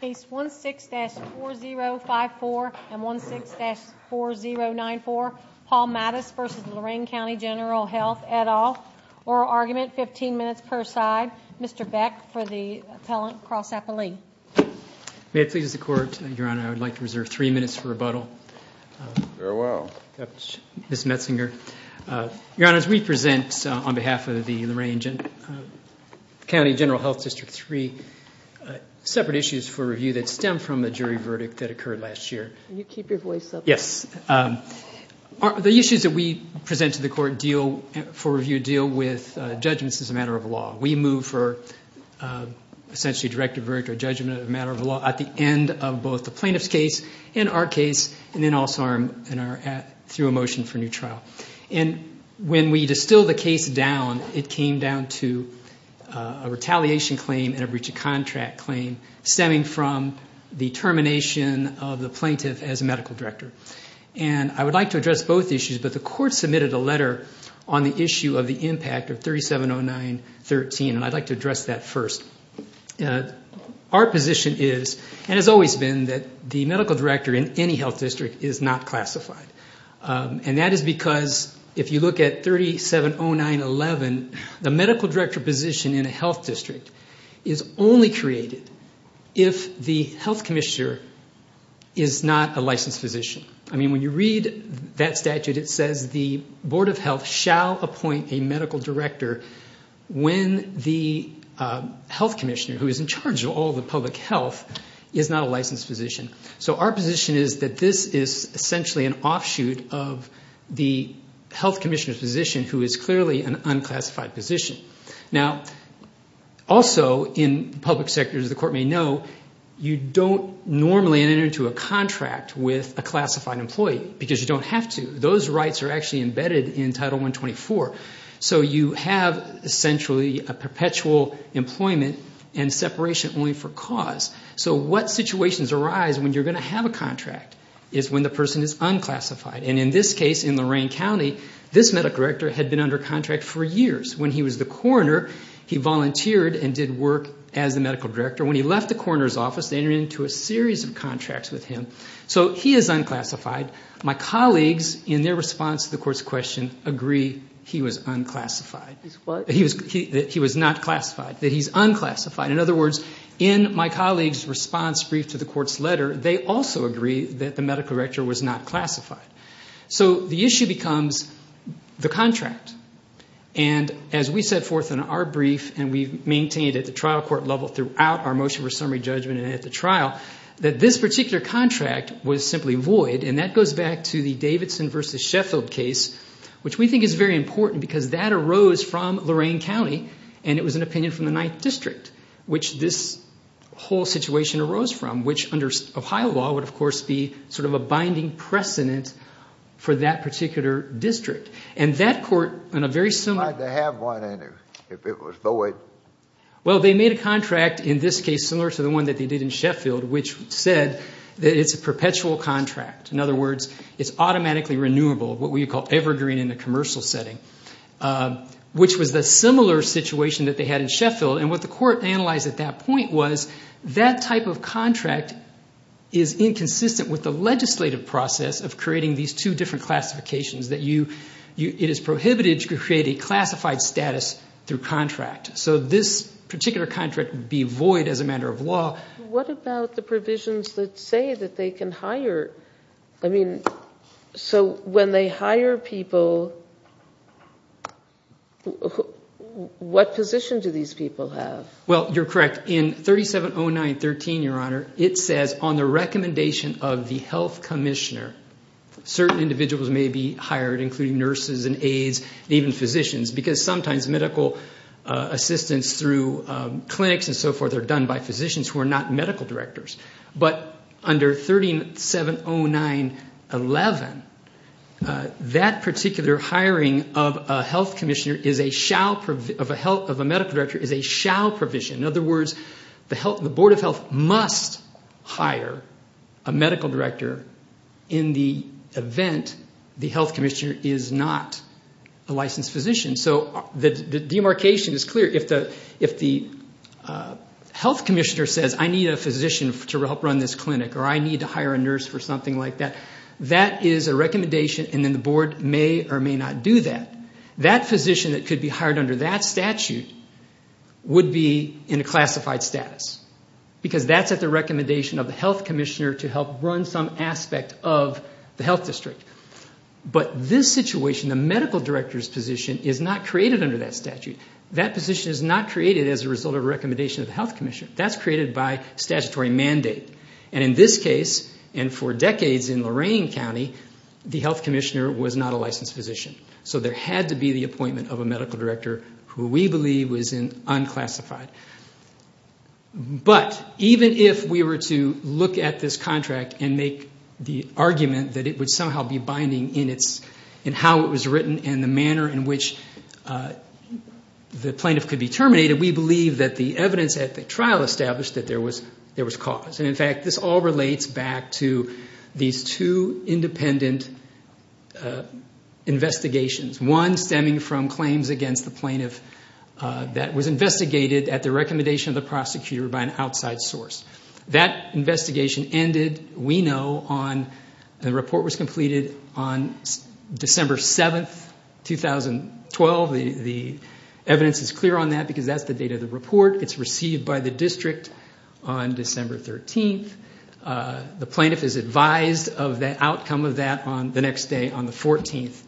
Case 16-4054 and 16-4094, Paul Matus v. Lorain County General Health, et al. Oral argument, 15 minutes per side. Mr. Beck for the Appellant Cross-Appellee. May it please the Court, Your Honor, I would like to reserve three minutes for rebuttal. Very well. Ms. Metzinger. Your Honor, as we present on behalf of the Lorain County General Health District 3 separate issues for review that stem from a jury verdict that occurred last year. Can you keep your voice up? Yes. The issues that we present to the Court for review deal with judgments as a matter of law. We move for essentially a directive verdict or judgment of a matter of law at the end of both the plaintiff's case and our case and then also through a motion for new trial. And when we distill the case down, it came down to a retaliation claim and a breach of contract claim stemming from the termination of the plaintiff as medical director. And I would like to address both issues, but the Court submitted a letter on the issue of the impact of 3709-13, and I'd like to address that first. Our position is and has always been that the medical director in any health district is not classified. And that is because if you look at 3709-11, the medical director position in a health district is only created if the health commissioner is not a licensed physician. I mean, when you read that statute, it says the Board of Health shall appoint a medical director when the health commissioner, who is in charge of all the public health, is not a licensed physician. So our position is that this is essentially an offshoot of the health commissioner's position, who is clearly an unclassified position. Now, also in public sectors, the Court may know, you don't normally enter into a contract with a classified employee because you don't have to. Those rights are actually embedded in Title 124. So you have essentially a perpetual employment and separation only for cause. So what situations arise when you're going to have a contract is when the person is unclassified. And in this case, in Lorain County, this medical director had been under contract for years. When he was the coroner, he volunteered and did work as the medical director. When he left the coroner's office, they entered into a series of contracts with him. So he is unclassified. My colleagues, in their response to the Court's question, agree he was unclassified. He was not classified, that he's unclassified. In other words, in my colleagues' response brief to the Court's letter, they also agree that the medical director was not classified. So the issue becomes the contract. And as we set forth in our brief and we've maintained at the trial court level throughout our motion for summary judgment and at the trial, that this particular contract was simply void. And that goes back to the Davidson v. Sheffield case, which we think is very important because that arose from Lorain County, and it was an opinion from the 9th District, which this whole situation arose from, which under Ohio law would, of course, be sort of a binding precedent for that particular district. And that court, in a very similar— Why did they have one in it if it was void? Well, they made a contract in this case similar to the one that they did in Sheffield, which said that it's a perpetual contract. In other words, it's automatically renewable, what we would call evergreen in the commercial setting, which was the similar situation that they had in Sheffield. And what the Court analyzed at that point was that type of contract is inconsistent with the legislative process of creating these two different classifications, that it is prohibited to create a classified status through contract. So this particular contract would be void as a matter of law. What about the provisions that say that they can hire? I mean, so when they hire people, what position do these people have? Well, you're correct. In 3709.13, Your Honor, it says on the recommendation of the health commissioner, certain individuals may be hired, including nurses and aides and even physicians, because sometimes medical assistance through clinics and so forth are done by physicians who are not medical directors. But under 3709.11, that particular hiring of a medical director is a shall provision. In other words, the Board of Health must hire a medical director in the event the health commissioner is not a licensed physician. So the demarcation is clear. If the health commissioner says, I need a physician to help run this clinic, or I need to hire a nurse for something like that, that is a recommendation, and then the Board may or may not do that. That physician that could be hired under that statute would be in a classified status, because that's at the recommendation of the health commissioner to help run some aspect of the health district. But this situation, the medical director's position, is not created under that statute. That position is not created as a result of a recommendation of the health commissioner. That's created by statutory mandate. And in this case, and for decades in Lorain County, the health commissioner was not a licensed physician. So there had to be the appointment of a medical director who we believe was unclassified. But even if we were to look at this contract and make the argument that it would somehow be binding in how it was written and the manner in which the plaintiff could be terminated, we believe that the evidence at the trial established that there was cause. And, in fact, this all relates back to these two independent investigations, one stemming from claims against the plaintiff that was investigated at the recommendation of the prosecutor by an outside source. That investigation ended, we know, on the report was completed on December 7th, 2012. The evidence is clear on that because that's the date of the report. It's received by the district on December 13th. The plaintiff is advised of the outcome of that the next day on December 14th.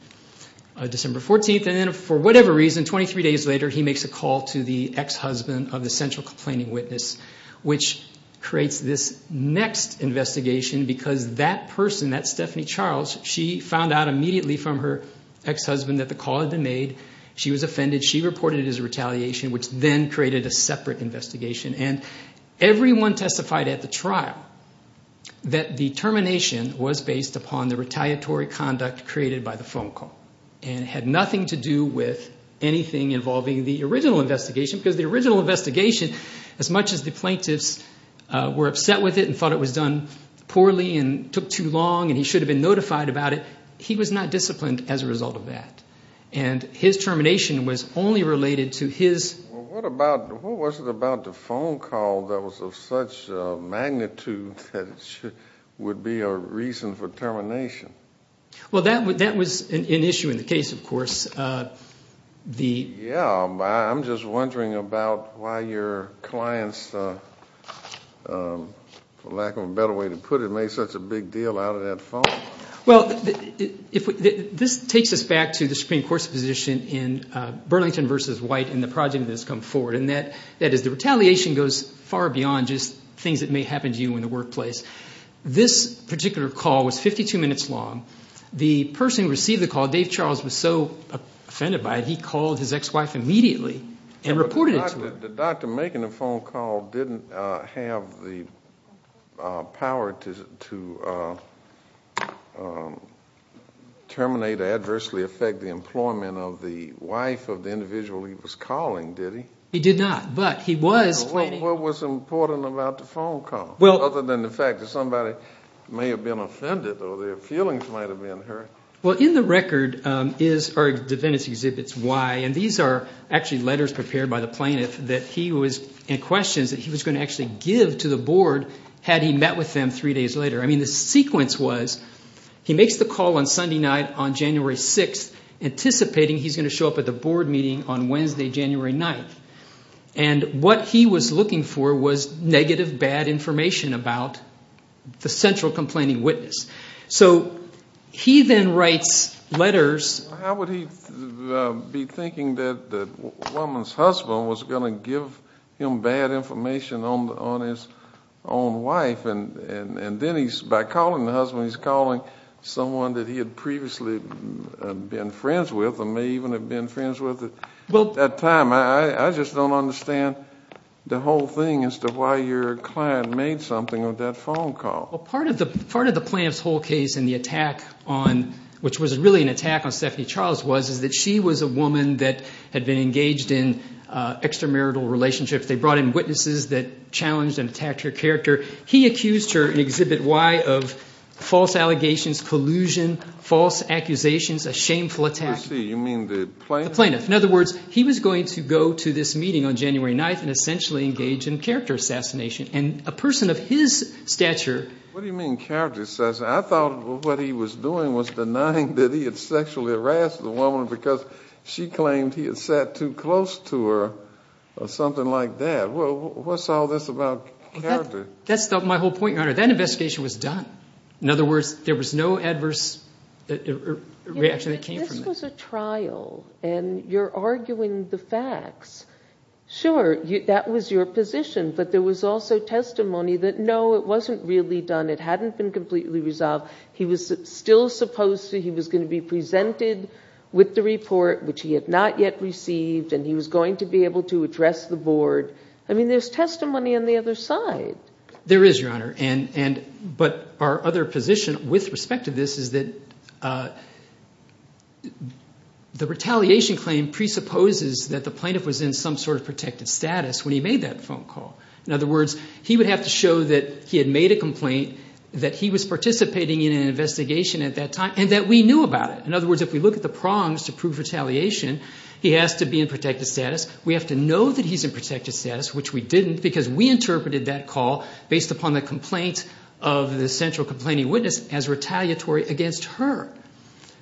And then for whatever reason, 23 days later, he makes a call to the ex-husband of the central complaining witness, which creates this next investigation because that person, that Stephanie Charles, she found out immediately from her ex-husband that the call had been made. She was offended. She reported it as a retaliation, which then created a separate investigation. And everyone testified at the trial that the termination was based upon the retaliatory conduct created by the phone call and had nothing to do with anything involving the original investigation because the original investigation, as much as the plaintiffs were upset with it and thought it was done poorly and took too long and he should have been notified about it, he was not disciplined as a result of that. And his termination was only related to his – a phone call that was of such magnitude that it would be a reason for termination. Well, that was an issue in the case, of course. Yeah. I'm just wondering about why your clients, for lack of a better way to put it, made such a big deal out of that phone call. Well, this takes us back to the Supreme Court's position in Burlington v. White and the project that has come forward, and that is the retaliation goes far beyond just things that may happen to you in the workplace. This particular call was 52 minutes long. The person who received the call, Dave Charles, was so offended by it he called his ex-wife immediately and reported it to her. The doctor making the phone call didn't have the power to terminate or adversely affect the employment of the wife of the individual he was calling, did he? He did not, but he was – What was important about the phone call other than the fact that somebody may have been offended or their feelings might have been hurt? Well, in the record is – or the defendants' exhibits why, and these are actually letters prepared by the plaintiff that he was – and questions that he was going to actually give to the board had he met with them three days later. I mean the sequence was he makes the call on Sunday night on January 6th anticipating he's going to show up at the board meeting on Wednesday, January 9th, and what he was looking for was negative, bad information about the central complaining witness. So he then writes letters – How would he be thinking that the woman's husband was going to give him bad information on his own wife, and then by calling the husband he's calling someone that he had previously been friends with or may even have been friends with at that time? I just don't understand the whole thing as to why your client made something on that phone call. Part of the plaintiff's whole case and the attack on – which was really an attack on Stephanie Charles was that she was a woman that had been engaged in extramarital relationships. They brought in witnesses that challenged and attacked her character. He accused her in Exhibit Y of false allegations, collusion, false accusations, a shameful attack. You mean the plaintiff? The plaintiff. In other words, he was going to go to this meeting on January 9th and essentially engage in character assassination, and a person of his stature – What do you mean character assassination? I thought what he was doing was denying that he had sexually harassed the woman because she claimed he had sat too close to her or something like that. What's all this about character? That's my whole point, Your Honor. That investigation was done. In other words, there was no adverse reaction that came from this. This was a trial, and you're arguing the facts. Sure, that was your position, but there was also testimony that, no, it wasn't really done. It hadn't been completely resolved. He was still supposed to – he was going to be presented with the report, which he had not yet received, and he was going to be able to address the board. I mean there's testimony on the other side. There is, Your Honor, but our other position with respect to this is that the retaliation claim presupposes that the plaintiff was in some sort of protected status when he made that phone call. In other words, he would have to show that he had made a complaint, that he was participating in an investigation at that time, and that we knew about it. In other words, if we look at the prongs to prove retaliation, he has to be in protected status. We have to know that he's in protected status, which we didn't, because we interpreted that call, based upon the complaint of the central complaining witness, as retaliatory against her.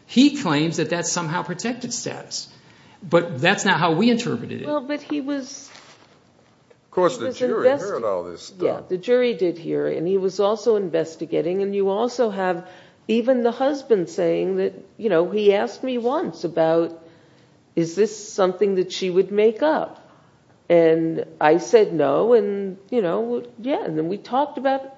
He claims that that's somehow protected status, but that's not how we interpreted it. Well, but he was – Of course, the jury heard all this stuff. Yeah, the jury did hear it, and he was also investigating, and you also have even the husband saying that, you know, he asked me once about, is this something that she would make up? And I said no, and, you know, yeah, and then we talked about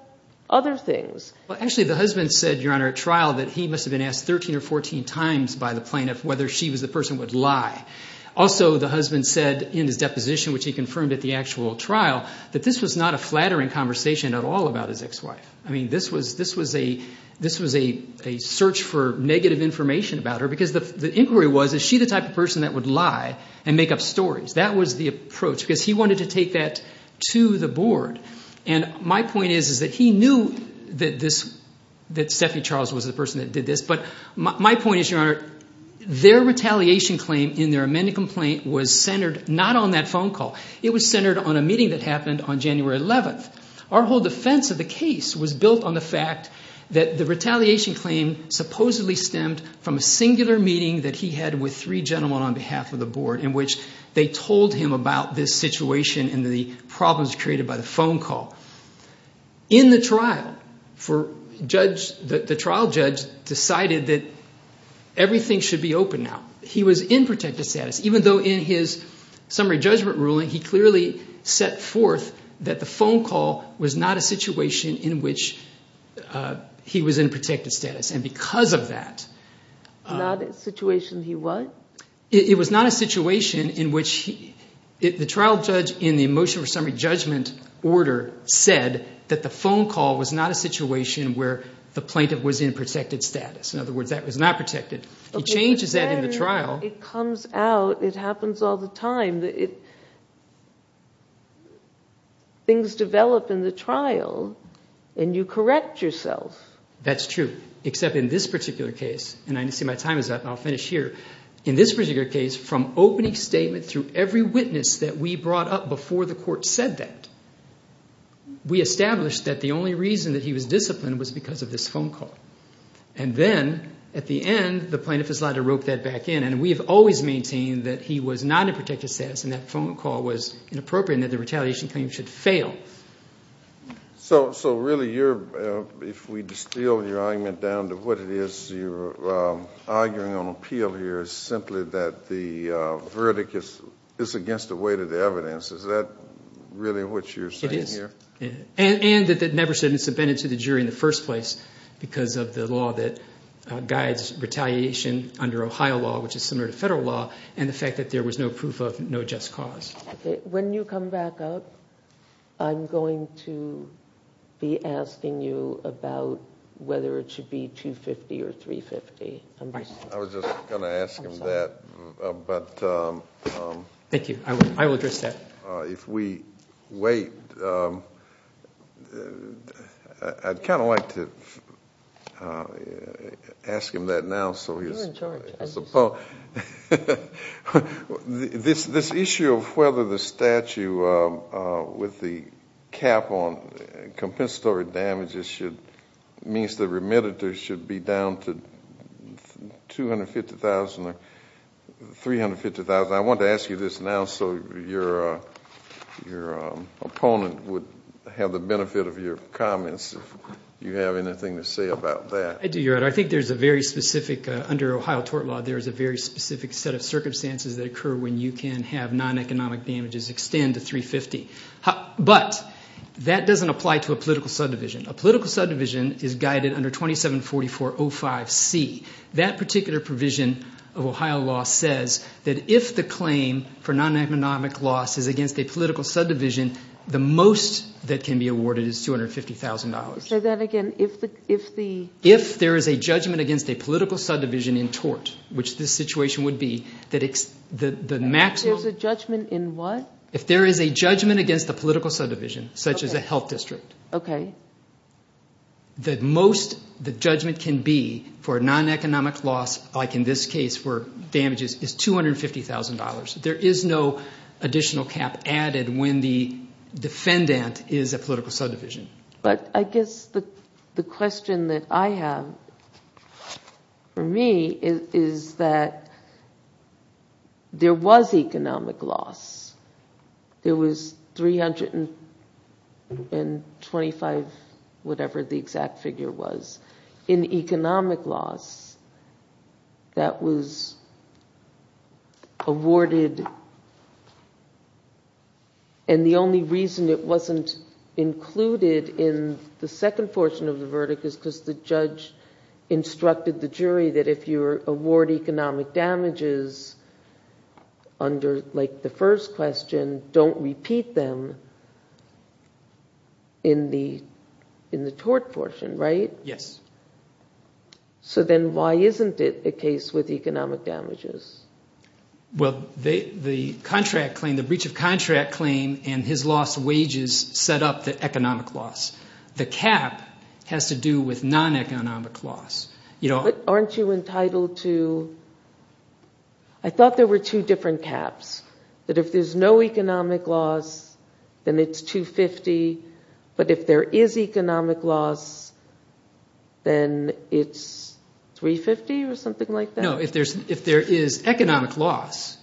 other things. Well, actually the husband said, Your Honor, at trial that he must have been asked 13 or 14 times by the plaintiff whether she was the person who would lie. Also, the husband said in his deposition, which he confirmed at the actual trial, I mean, this was a search for negative information about her, because the inquiry was, is she the type of person that would lie and make up stories? That was the approach, because he wanted to take that to the board. And my point is that he knew that Stephanie Charles was the person that did this, but my point is, Your Honor, their retaliation claim in their amended complaint was centered not on that phone call. It was centered on a meeting that happened on January 11th. Our whole defense of the case was built on the fact that the retaliation claim supposedly stemmed from a singular meeting that he had with three gentlemen on behalf of the board in which they told him about this situation and the problems created by the phone call. In the trial, the trial judge decided that everything should be open now. He was in protective status, even though in his summary judgment ruling, he clearly set forth that the phone call was not a situation in which he was in protective status, and because of that. Not a situation he what? It was not a situation in which he, the trial judge in the motion for summary judgment order said that the phone call was not a situation where the plaintiff was in protected status. In other words, that was not protected. He changes that in the trial. It comes out. It happens all the time. Things develop in the trial, and you correct yourself. That's true, except in this particular case, and I see my time is up, and I'll finish here. In this particular case, from opening statement through every witness that we brought up before the court said that, we established that the only reason that he was disciplined was because of this phone call. And then, at the end, the plaintiff is allowed to rope that back in, and we have always maintained that he was not in protected status, and that phone call was inappropriate, and that the retaliation claim should fail. So really, if we distill your argument down to what it is you're arguing on appeal here, it's simply that the verdict is against the weight of the evidence. Is that really what you're saying here? And that it never should have been submitted to the jury in the first place, because of the law that guides retaliation under Ohio law, which is similar to federal law, and the fact that there was no proof of no just cause. When you come back up, I'm going to be asking you about whether it should be 250 or 350. I was just going to ask him that. Thank you. I will address that. If we wait, I'd kind of like to ask him that now. This issue of whether the statute, with the cap on compensatory damages, means the remitted should be down to 250,000 or 350,000, I want to ask you this now so your opponent would have the benefit of your comments, if you have anything to say about that. I do, Your Honor. I think there's a very specific, under Ohio tort law, there's a very specific set of circumstances that occur when you can have non-economic damages extend to 350. But that doesn't apply to a political subdivision. A political subdivision is guided under 2744.05c. That particular provision of Ohio law says that if the claim for non-economic loss is against a political subdivision, the most that can be awarded is $250,000. Say that again. If there is a judgment against a political subdivision in tort, which this situation would be, the maximum. There's a judgment in what? If there is a judgment against a political subdivision, such as a health district, the most the judgment can be for non-economic loss, like in this case for damages, is $250,000. There is no additional cap added when the defendant is a political subdivision. But I guess the question that I have for me is that there was economic loss. There was $325,000, whatever the exact figure was, in economic loss that was awarded, and the only reason it wasn't included in the second portion of the verdict is because the judge instructed the jury that if you award economic damages under the first question, don't repeat them in the tort portion, right? Yes. So then why isn't it the case with economic damages? Well, the breach of contract claim and his lost wages set up the economic loss. The cap has to do with non-economic loss. Aren't you entitled to—I thought there were two different caps, that if there's no economic loss, then it's $250,000, but if there is economic loss, then it's $350,000 or something like that? No, if there is economic loss,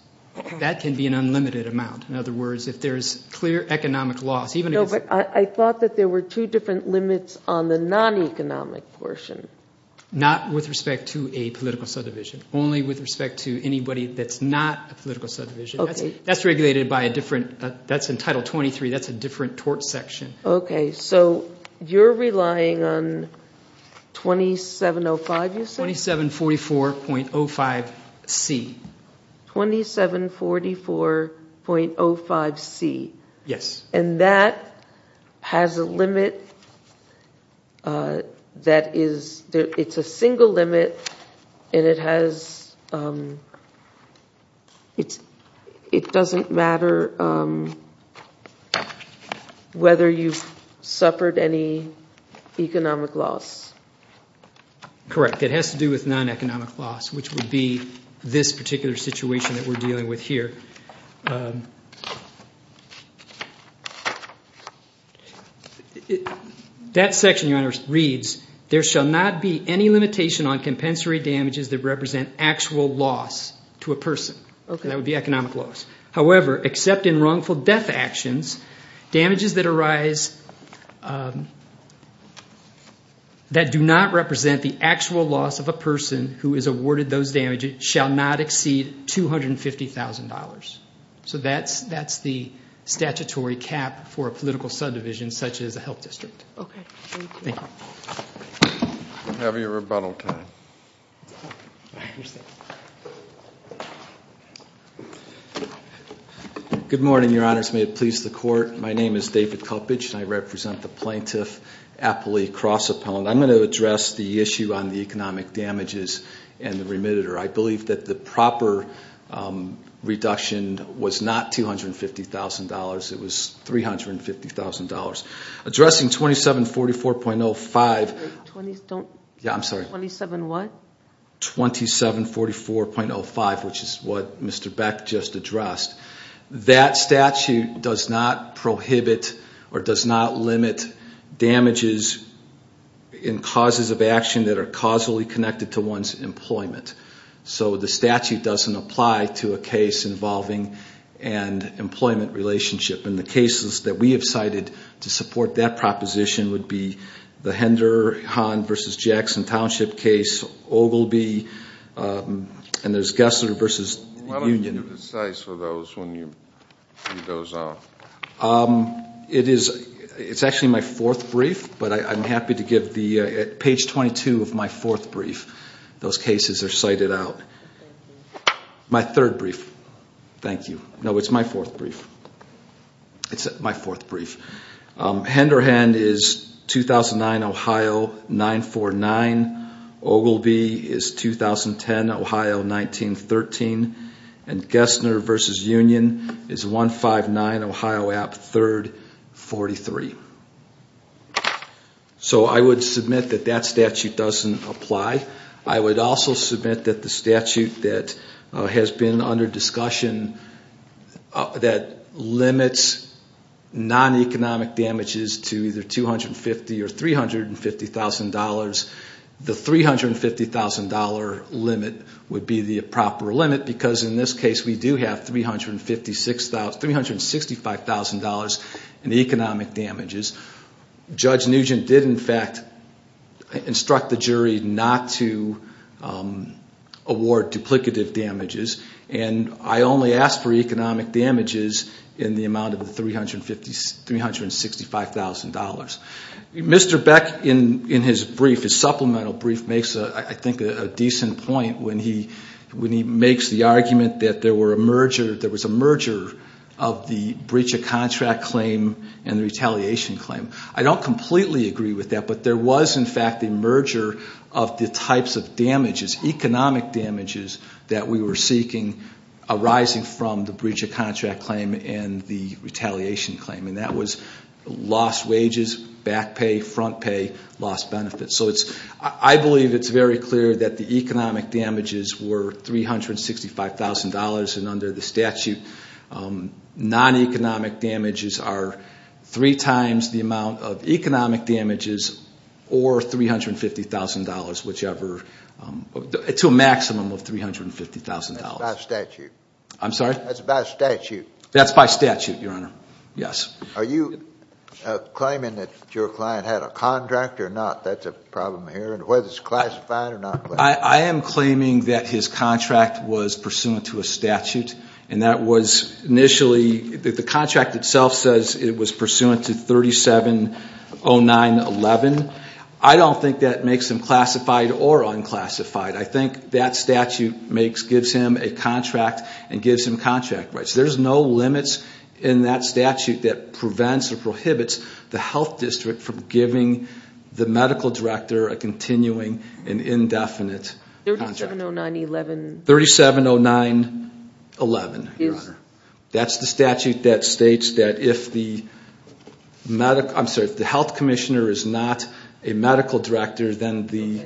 that can be an unlimited amount. In other words, if there's clear economic loss, even if it's— No, but I thought that there were two different limits on the non-economic portion. Not with respect to a political subdivision, only with respect to anybody that's not a political subdivision. That's regulated by a different—that's in Title 23. That's a different tort section. Okay, so you're relying on 2705, you said? 2744.05C. 2744.05C. Yes. And that has a limit that is—it's a single limit, and it has—it doesn't matter whether you've suffered any economic loss. Correct. It has to do with non-economic loss, which would be this particular situation that we're dealing with here. That section, Your Honor, reads, there shall not be any limitation on compensatory damages that represent actual loss to a person. Okay. That would be economic loss. However, except in wrongful death actions, damages that arise that do not represent the actual loss of a person who is awarded those damages shall not exceed $250,000. So that's the statutory cap for a political subdivision such as a health district. Okay, thank you. Thank you. Have your rebuttal time. I understand. Good morning, Your Honors. May it please the Court. My name is David Kulpich, and I represent the plaintiff, Apolli Crossapone. I'm going to address the issue on the economic damages and the remitter. I believe that the proper reduction was not $250,000. It was $350,000. Addressing 2744.05— Don't— Yeah, I'm sorry. 27 what? 2744.05, which is what Mr. Beck just addressed. That statute does not prohibit or does not limit damages in causes of action that are causally connected to one's employment. So the statute doesn't apply to a case involving an employment relationship. And the cases that we have cited to support that proposition would be the Henderhan v. Jackson Township case, Ogilvie, and there's Gessler v. Union. Why don't you do the cites for those when you read those out? It's actually my fourth brief, but I'm happy to give the—at page 22 of my fourth brief, those cases are cited out. My third brief. Thank you. No, it's my fourth brief. It's my fourth brief. Henderhan is 2009, Ohio, 949. Ogilvie is 2010, Ohio, 1913. And Gessler v. Union is 159, Ohio, App. 3rd, 43. So I would submit that that statute doesn't apply. I would also submit that the statute that has been under discussion that limits non-economic damages to either $250,000 or $350,000, the $350,000 limit would be the proper limit because in this case we do have $365,000 in economic damages. Judge Nugent did, in fact, instruct the jury not to award duplicative damages, and I only asked for economic damages in the amount of the $365,000. Mr. Beck, in his brief, his supplemental brief, makes, I think, a decent point when he makes the argument that there was a merger of the breach of contract claim and the retaliation claim. I don't completely agree with that, but there was, in fact, a merger of the types of damages, economic damages, that we were seeking arising from the breach of contract claim and the retaliation claim, and that was lost wages, back pay, front pay, lost benefits. So I believe it's very clear that the economic damages were $365,000, and under the statute, non-economic damages are three times the amount of economic damages or $350,000, whichever, to a maximum of $350,000. That's by statute. I'm sorry? That's by statute. That's by statute, Your Honor. Yes. Are you claiming that your client had a contract or not? That's a problem here, whether it's classified or not. I am claiming that his contract was pursuant to a statute, and that was initially, the contract itself says it was pursuant to 3709.11. I don't think that makes him classified or unclassified. I think that statute gives him a contract and gives him contract rights. There's no limits in that statute that prevents or prohibits the health district from giving the medical director a continuing and indefinite contract. 3709.11. 3709.11, Your Honor. That's the statute that states that if the health commissioner is not a medical director, then the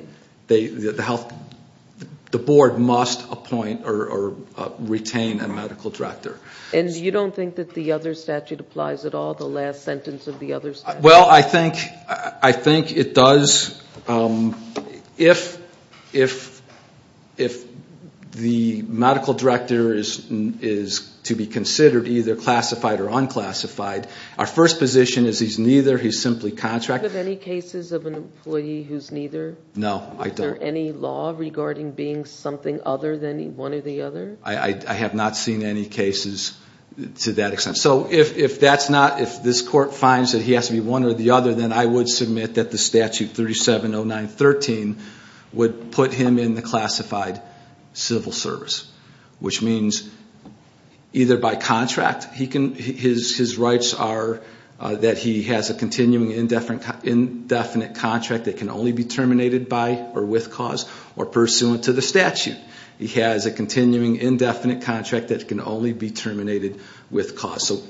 board must appoint or retain a medical director. And you don't think that the other statute applies at all, the last sentence of the other statute? Well, I think it does. If the medical director is to be considered either classified or unclassified, our first position is he's neither, he's simply contracted. Do you have any cases of an employee who's neither? No, I don't. Is there any law regarding being something other than one or the other? I have not seen any cases to that extent. So if this court finds that he has to be one or the other, then I would submit that the statute 3709.13 would put him in the classified civil service, which means either by contract. His rights are that he has a continuing indefinite contract that can only be terminated by or with cause or pursuant to the statute. He has a continuing indefinite contract that can only be terminated with cause. So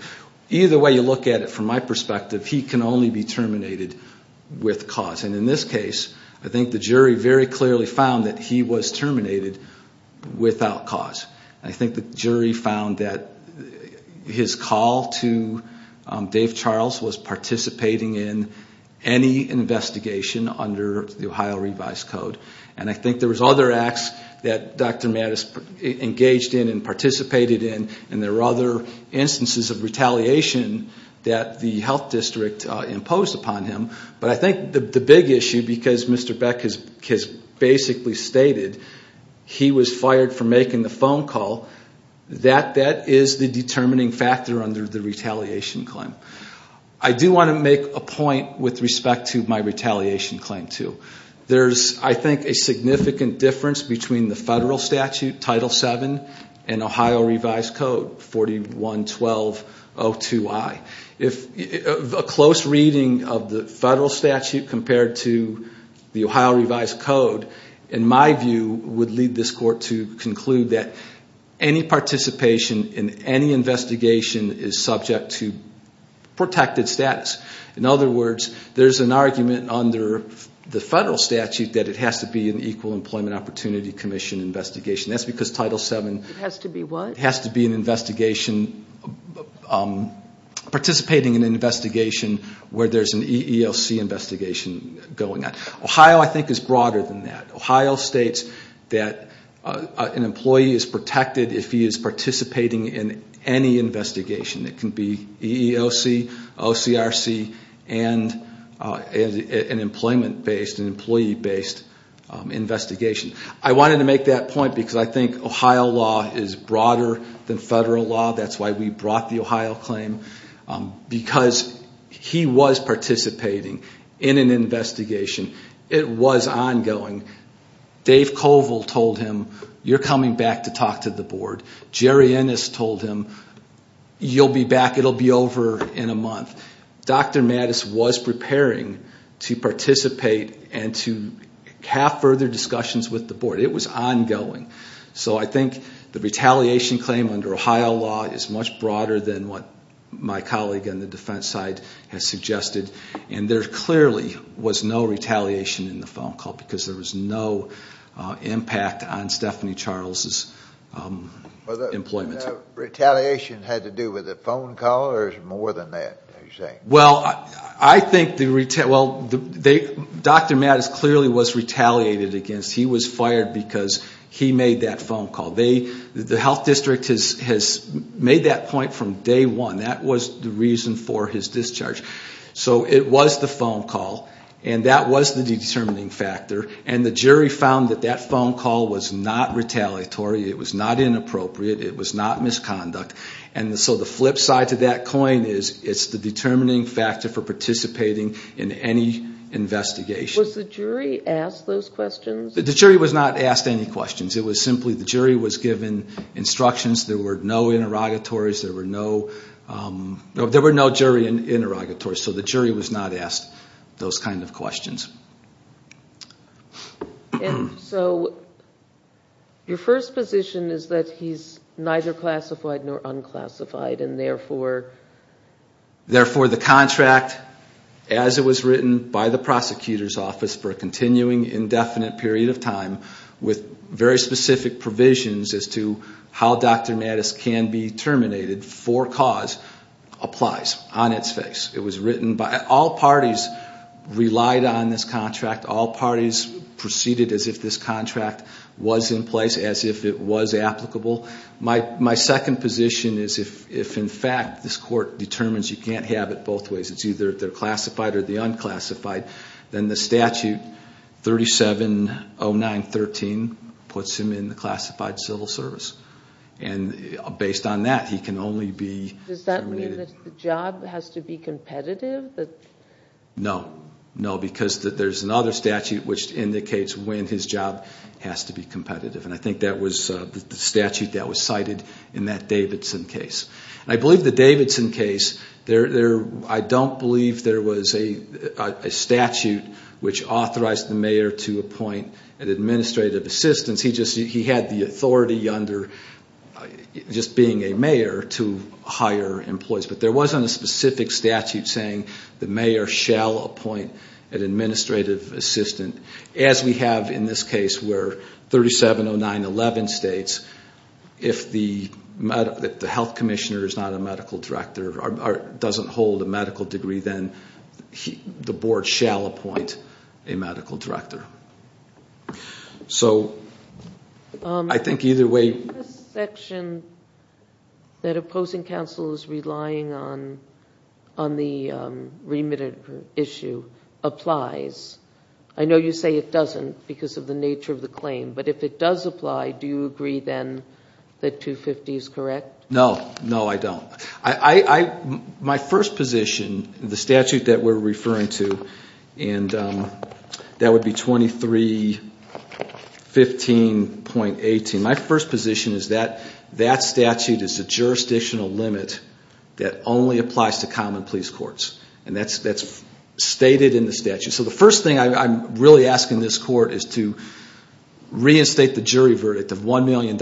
either way you look at it, from my perspective, he can only be terminated with cause. And in this case, I think the jury very clearly found that he was terminated without cause. I think the jury found that his call to Dave Charles was participating in any investigation under the Ohio Revised Code. And I think there was other acts that Dr. Mattis engaged in and participated in, and there were other instances of retaliation that the health district imposed upon him. But I think the big issue, because Mr. Beck has basically stated he was fired for making the phone call, that that is the determining factor under the retaliation claim. I do want to make a point with respect to my retaliation claim, too. There's, I think, a significant difference between the federal statute, Title VII, and Ohio Revised Code 411202I. A close reading of the federal statute compared to the Ohio Revised Code, in my view, would lead this court to conclude that any participation in any investigation is subject to protected status. In other words, there's an argument under the federal statute that it has to be an Equal Employment Opportunity Commission investigation. That's because Title VII has to be an investigation, participating in an investigation where there's an EEOC investigation going on. Ohio, I think, is broader than that. Ohio states that an employee is protected if he is participating in any investigation. It can be EEOC, OCRC, and an employment-based, an employee-based investigation. I wanted to make that point because I think Ohio law is broader than federal law. That's why we brought the Ohio claim. Because he was participating in an investigation. It was ongoing. Dave Colville told him, you're coming back to talk to the board. Jerry Ennis told him, you'll be back, it'll be over in a month. Dr. Mattis was preparing to participate and to have further discussions with the board. It was ongoing. So I think the retaliation claim under Ohio law is much broader than what my colleague on the defense side has suggested. And there clearly was no retaliation in the phone call because there was no impact on Stephanie Charles's employment. Retaliation had to do with a phone call or was it more than that? Well, I think, well, Dr. Mattis clearly was retaliated against. He was fired because he made that phone call. The health district has made that point from day one. That was the reason for his discharge. So it was the phone call and that was the determining factor. And the jury found that that phone call was not retaliatory. It was not inappropriate. It was not misconduct. And so the flip side to that coin is it's the determining factor for participating in any investigation. Was the jury asked those questions? The jury was not asked any questions. It was simply the jury was given instructions. There were no interrogatories. There were no jury interrogatories. So the jury was not asked those kind of questions. And so your first position is that he's neither classified nor unclassified. And therefore the contract as it was written by the prosecutor's office for a continuing indefinite period of time with very specific provisions as to how Dr. Mattis can be terminated for cause applies on its face. All parties relied on this contract. All parties proceeded as if this contract was in place, as if it was applicable. My second position is if in fact this court determines you can't have it both ways, it's either they're classified or they're unclassified, then the statute 3709.13 puts him in the classified civil service. And based on that, he can only be terminated. Does that mean that the job has to be competitive? No. No, because there's another statute which indicates when his job has to be competitive. And I think that was the statute that was cited in that Davidson case. And I believe the Davidson case, I don't believe there was a statute which authorized the mayor to appoint an administrative assistant. He had the authority under just being a mayor to hire employees. But there wasn't a specific statute saying the mayor shall appoint an administrative assistant, as we have in this case where 3709.11 states if the health commissioner is not a medical director or doesn't hold a medical degree, then the board shall appoint a medical director. So I think either way. This section that opposing counsel is relying on the remitted issue applies. I know you say it doesn't because of the nature of the claim. But if it does apply, do you agree then that 250 is correct? No. No, I don't. My first position, the statute that we're referring to, and that would be 2315.18, my first position is that that statute is a jurisdictional limit that only applies to common police courts. And that's stated in the statute. So the first thing I'm really asking this court is to reinstate the jury verdict of $1 million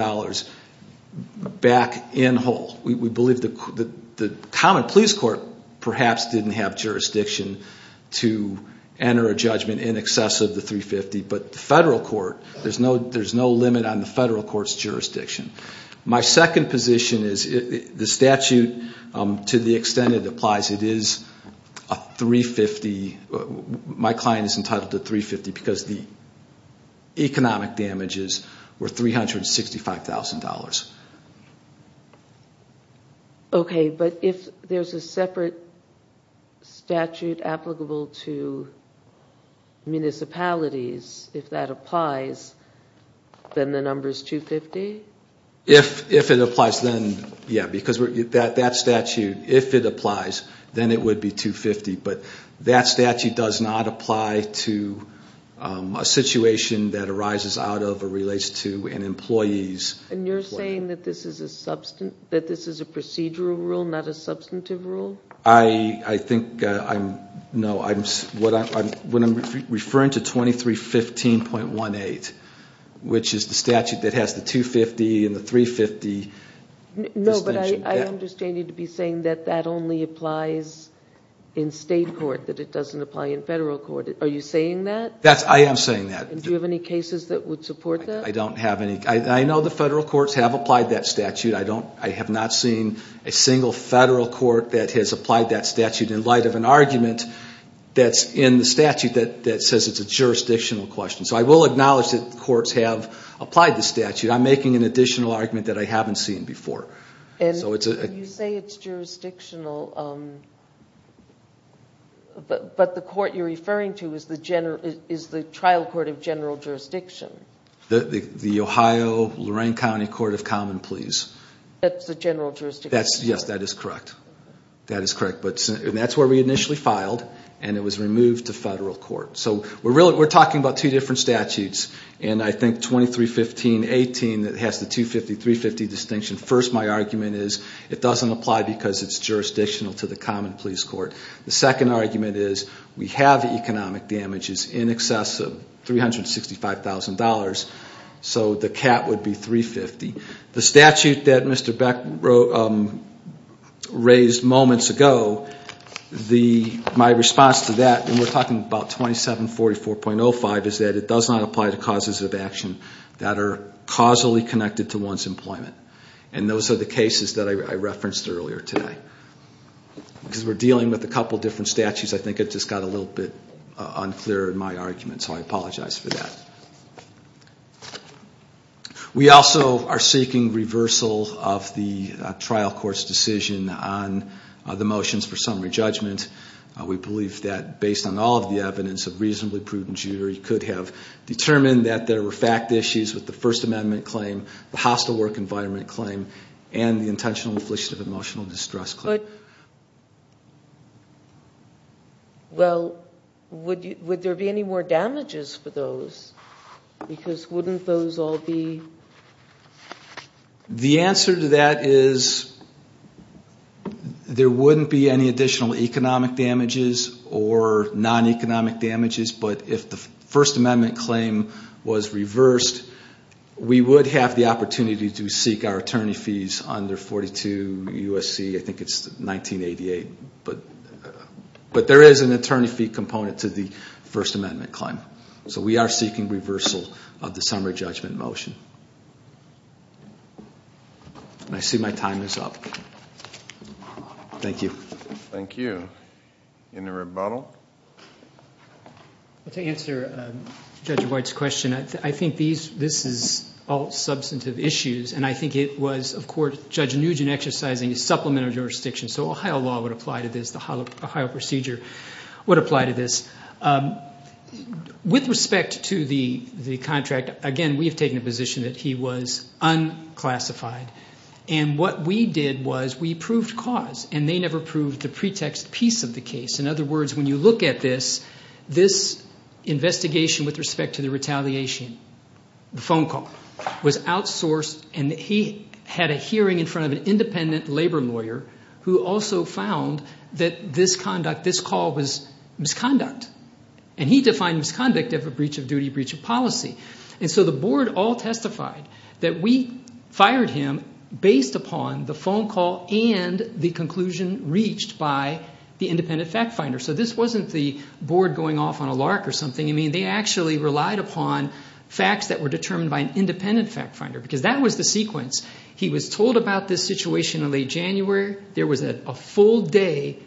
back in whole. We believe the common police court perhaps didn't have jurisdiction to enter a judgment in excess of the 350. But the federal court, there's no limit on the federal court's jurisdiction. My second position is the statute, to the extent it applies, it is a 350. My client is entitled to 350 because the economic damages were $365,000. Okay, but if there's a separate statute applicable to municipalities, if that applies, then the number is 250? If it applies, then, yeah. Because that statute, if it applies, then it would be 250. But that statute does not apply to a situation that arises out of or relates to an employee's- And you're saying that this is a procedural rule, not a substantive rule? I think, no. When I'm referring to 2315.18, which is the statute that has the 250 and the 350- No, but I understand you to be saying that that only applies in state court, that it doesn't apply in federal court. Are you saying that? I am saying that. Do you have any cases that would support that? I don't have any. I know the federal courts have applied that statute. I have not seen a single federal court that has applied that statute in light of an argument that's in the statute that says it's a jurisdictional question. So I will acknowledge that the courts have applied the statute. I'm making an additional argument that I haven't seen before. And you say it's jurisdictional, but the court you're referring to is the trial court of general jurisdiction? The Ohio-Lorraine County Court of Common Pleas. That's the general jurisdiction? Yes, that is correct. That is correct. But that's where we initially filed, and it was removed to federal court. So we're talking about two different statutes, and I think 2315-18 has the 250-350 distinction. First, my argument is it doesn't apply because it's jurisdictional to the common pleas court. The second argument is we have economic damages in excess of $365,000, so the cap would be 350. The statute that Mr. Beck raised moments ago, my response to that, and we're talking about 2744.05, is that it does not apply to causes of action that are causally connected to one's employment. And those are the cases that I referenced earlier today. Because we're dealing with a couple different statutes, I think it just got a little bit unclear in my argument, so I apologize for that. We also are seeking reversal of the trial court's decision on the motions for summary judgment. We believe that, based on all of the evidence of reasonably prudent jury, could have determined that there were fact issues with the First Amendment claim, the hostile work environment claim, and the intentional infliction of emotional distress claim. Well, would there be any more damages for those? Because wouldn't those all be... The answer to that is there wouldn't be any additional economic damages or non-economic damages, but if the First Amendment claim was reversed, we would have the opportunity to seek our attorney fees under 42 U.S.C. I think it's 1988. But there is an attorney fee component to the First Amendment claim. So we are seeking reversal of the summary judgment motion. And I see my time is up. Thank you. Thank you. Any rebuttal? To answer Judge White's question, I think this is all substantive issues, and I think it was, of course, Judge Nugent exercising a supplementary jurisdiction, so Ohio law would apply to this, the Ohio procedure would apply to this. With respect to the contract, again, we have taken a position that he was unclassified. And what we did was we proved cause, and they never proved the pretext piece of the case. In other words, when you look at this, this investigation with respect to the retaliation, the phone call was outsourced, and he had a hearing in front of an independent labor lawyer who also found that this conduct, this call was misconduct. And he defined misconduct as a breach of duty, breach of policy. And so the board all testified that we fired him based upon the phone call and the conclusion reached by the independent fact finder. So this wasn't the board going off on a lark or something. I mean, they actually relied upon facts that were determined by an independent fact finder, because that was the sequence. He was told about this situation in late January. There was a full-day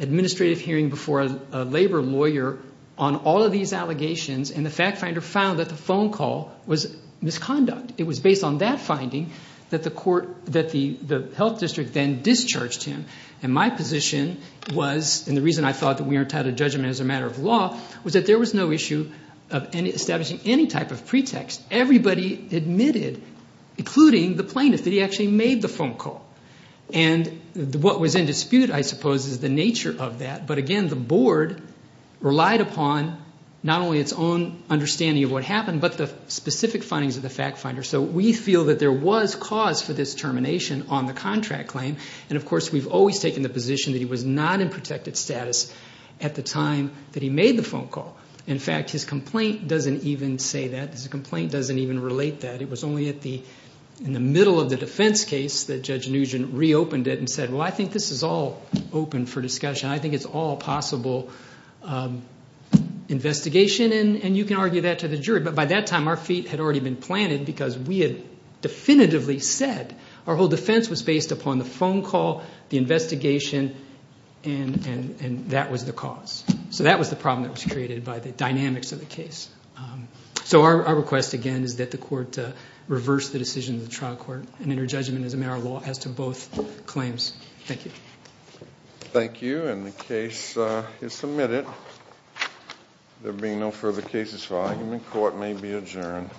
administrative hearing before a labor lawyer on all of these allegations, and the fact finder found that the phone call was misconduct. It was based on that finding that the court, that the health district then discharged him. And my position was, and the reason I thought that we aren't tied to judgment as a matter of law, was that there was no issue of establishing any type of pretext. Everybody admitted, including the plaintiff, that he actually made the phone call. And what was in dispute, I suppose, is the nature of that. But again, the board relied upon not only its own understanding of what happened, but the specific findings of the fact finder. So we feel that there was cause for this termination on the contract claim, and of course we've always taken the position that he was not in protected status at the time that he made the phone call. In fact, his complaint doesn't even say that. His complaint doesn't even relate that. It was only in the middle of the defense case that Judge Nugent reopened it and said, well, I think this is all open for discussion. I think it's all possible investigation, and you can argue that to the jury. But by that time, our feet had already been planted because we had definitively said Our whole defense was based upon the phone call, the investigation, and that was the cause. So that was the problem that was created by the dynamics of the case. So our request, again, is that the court reverse the decision of the trial court and enter judgment as a matter of law as to both claims. Thank you. Thank you, and the case is submitted. There being no further cases for argument, court may be adjourned.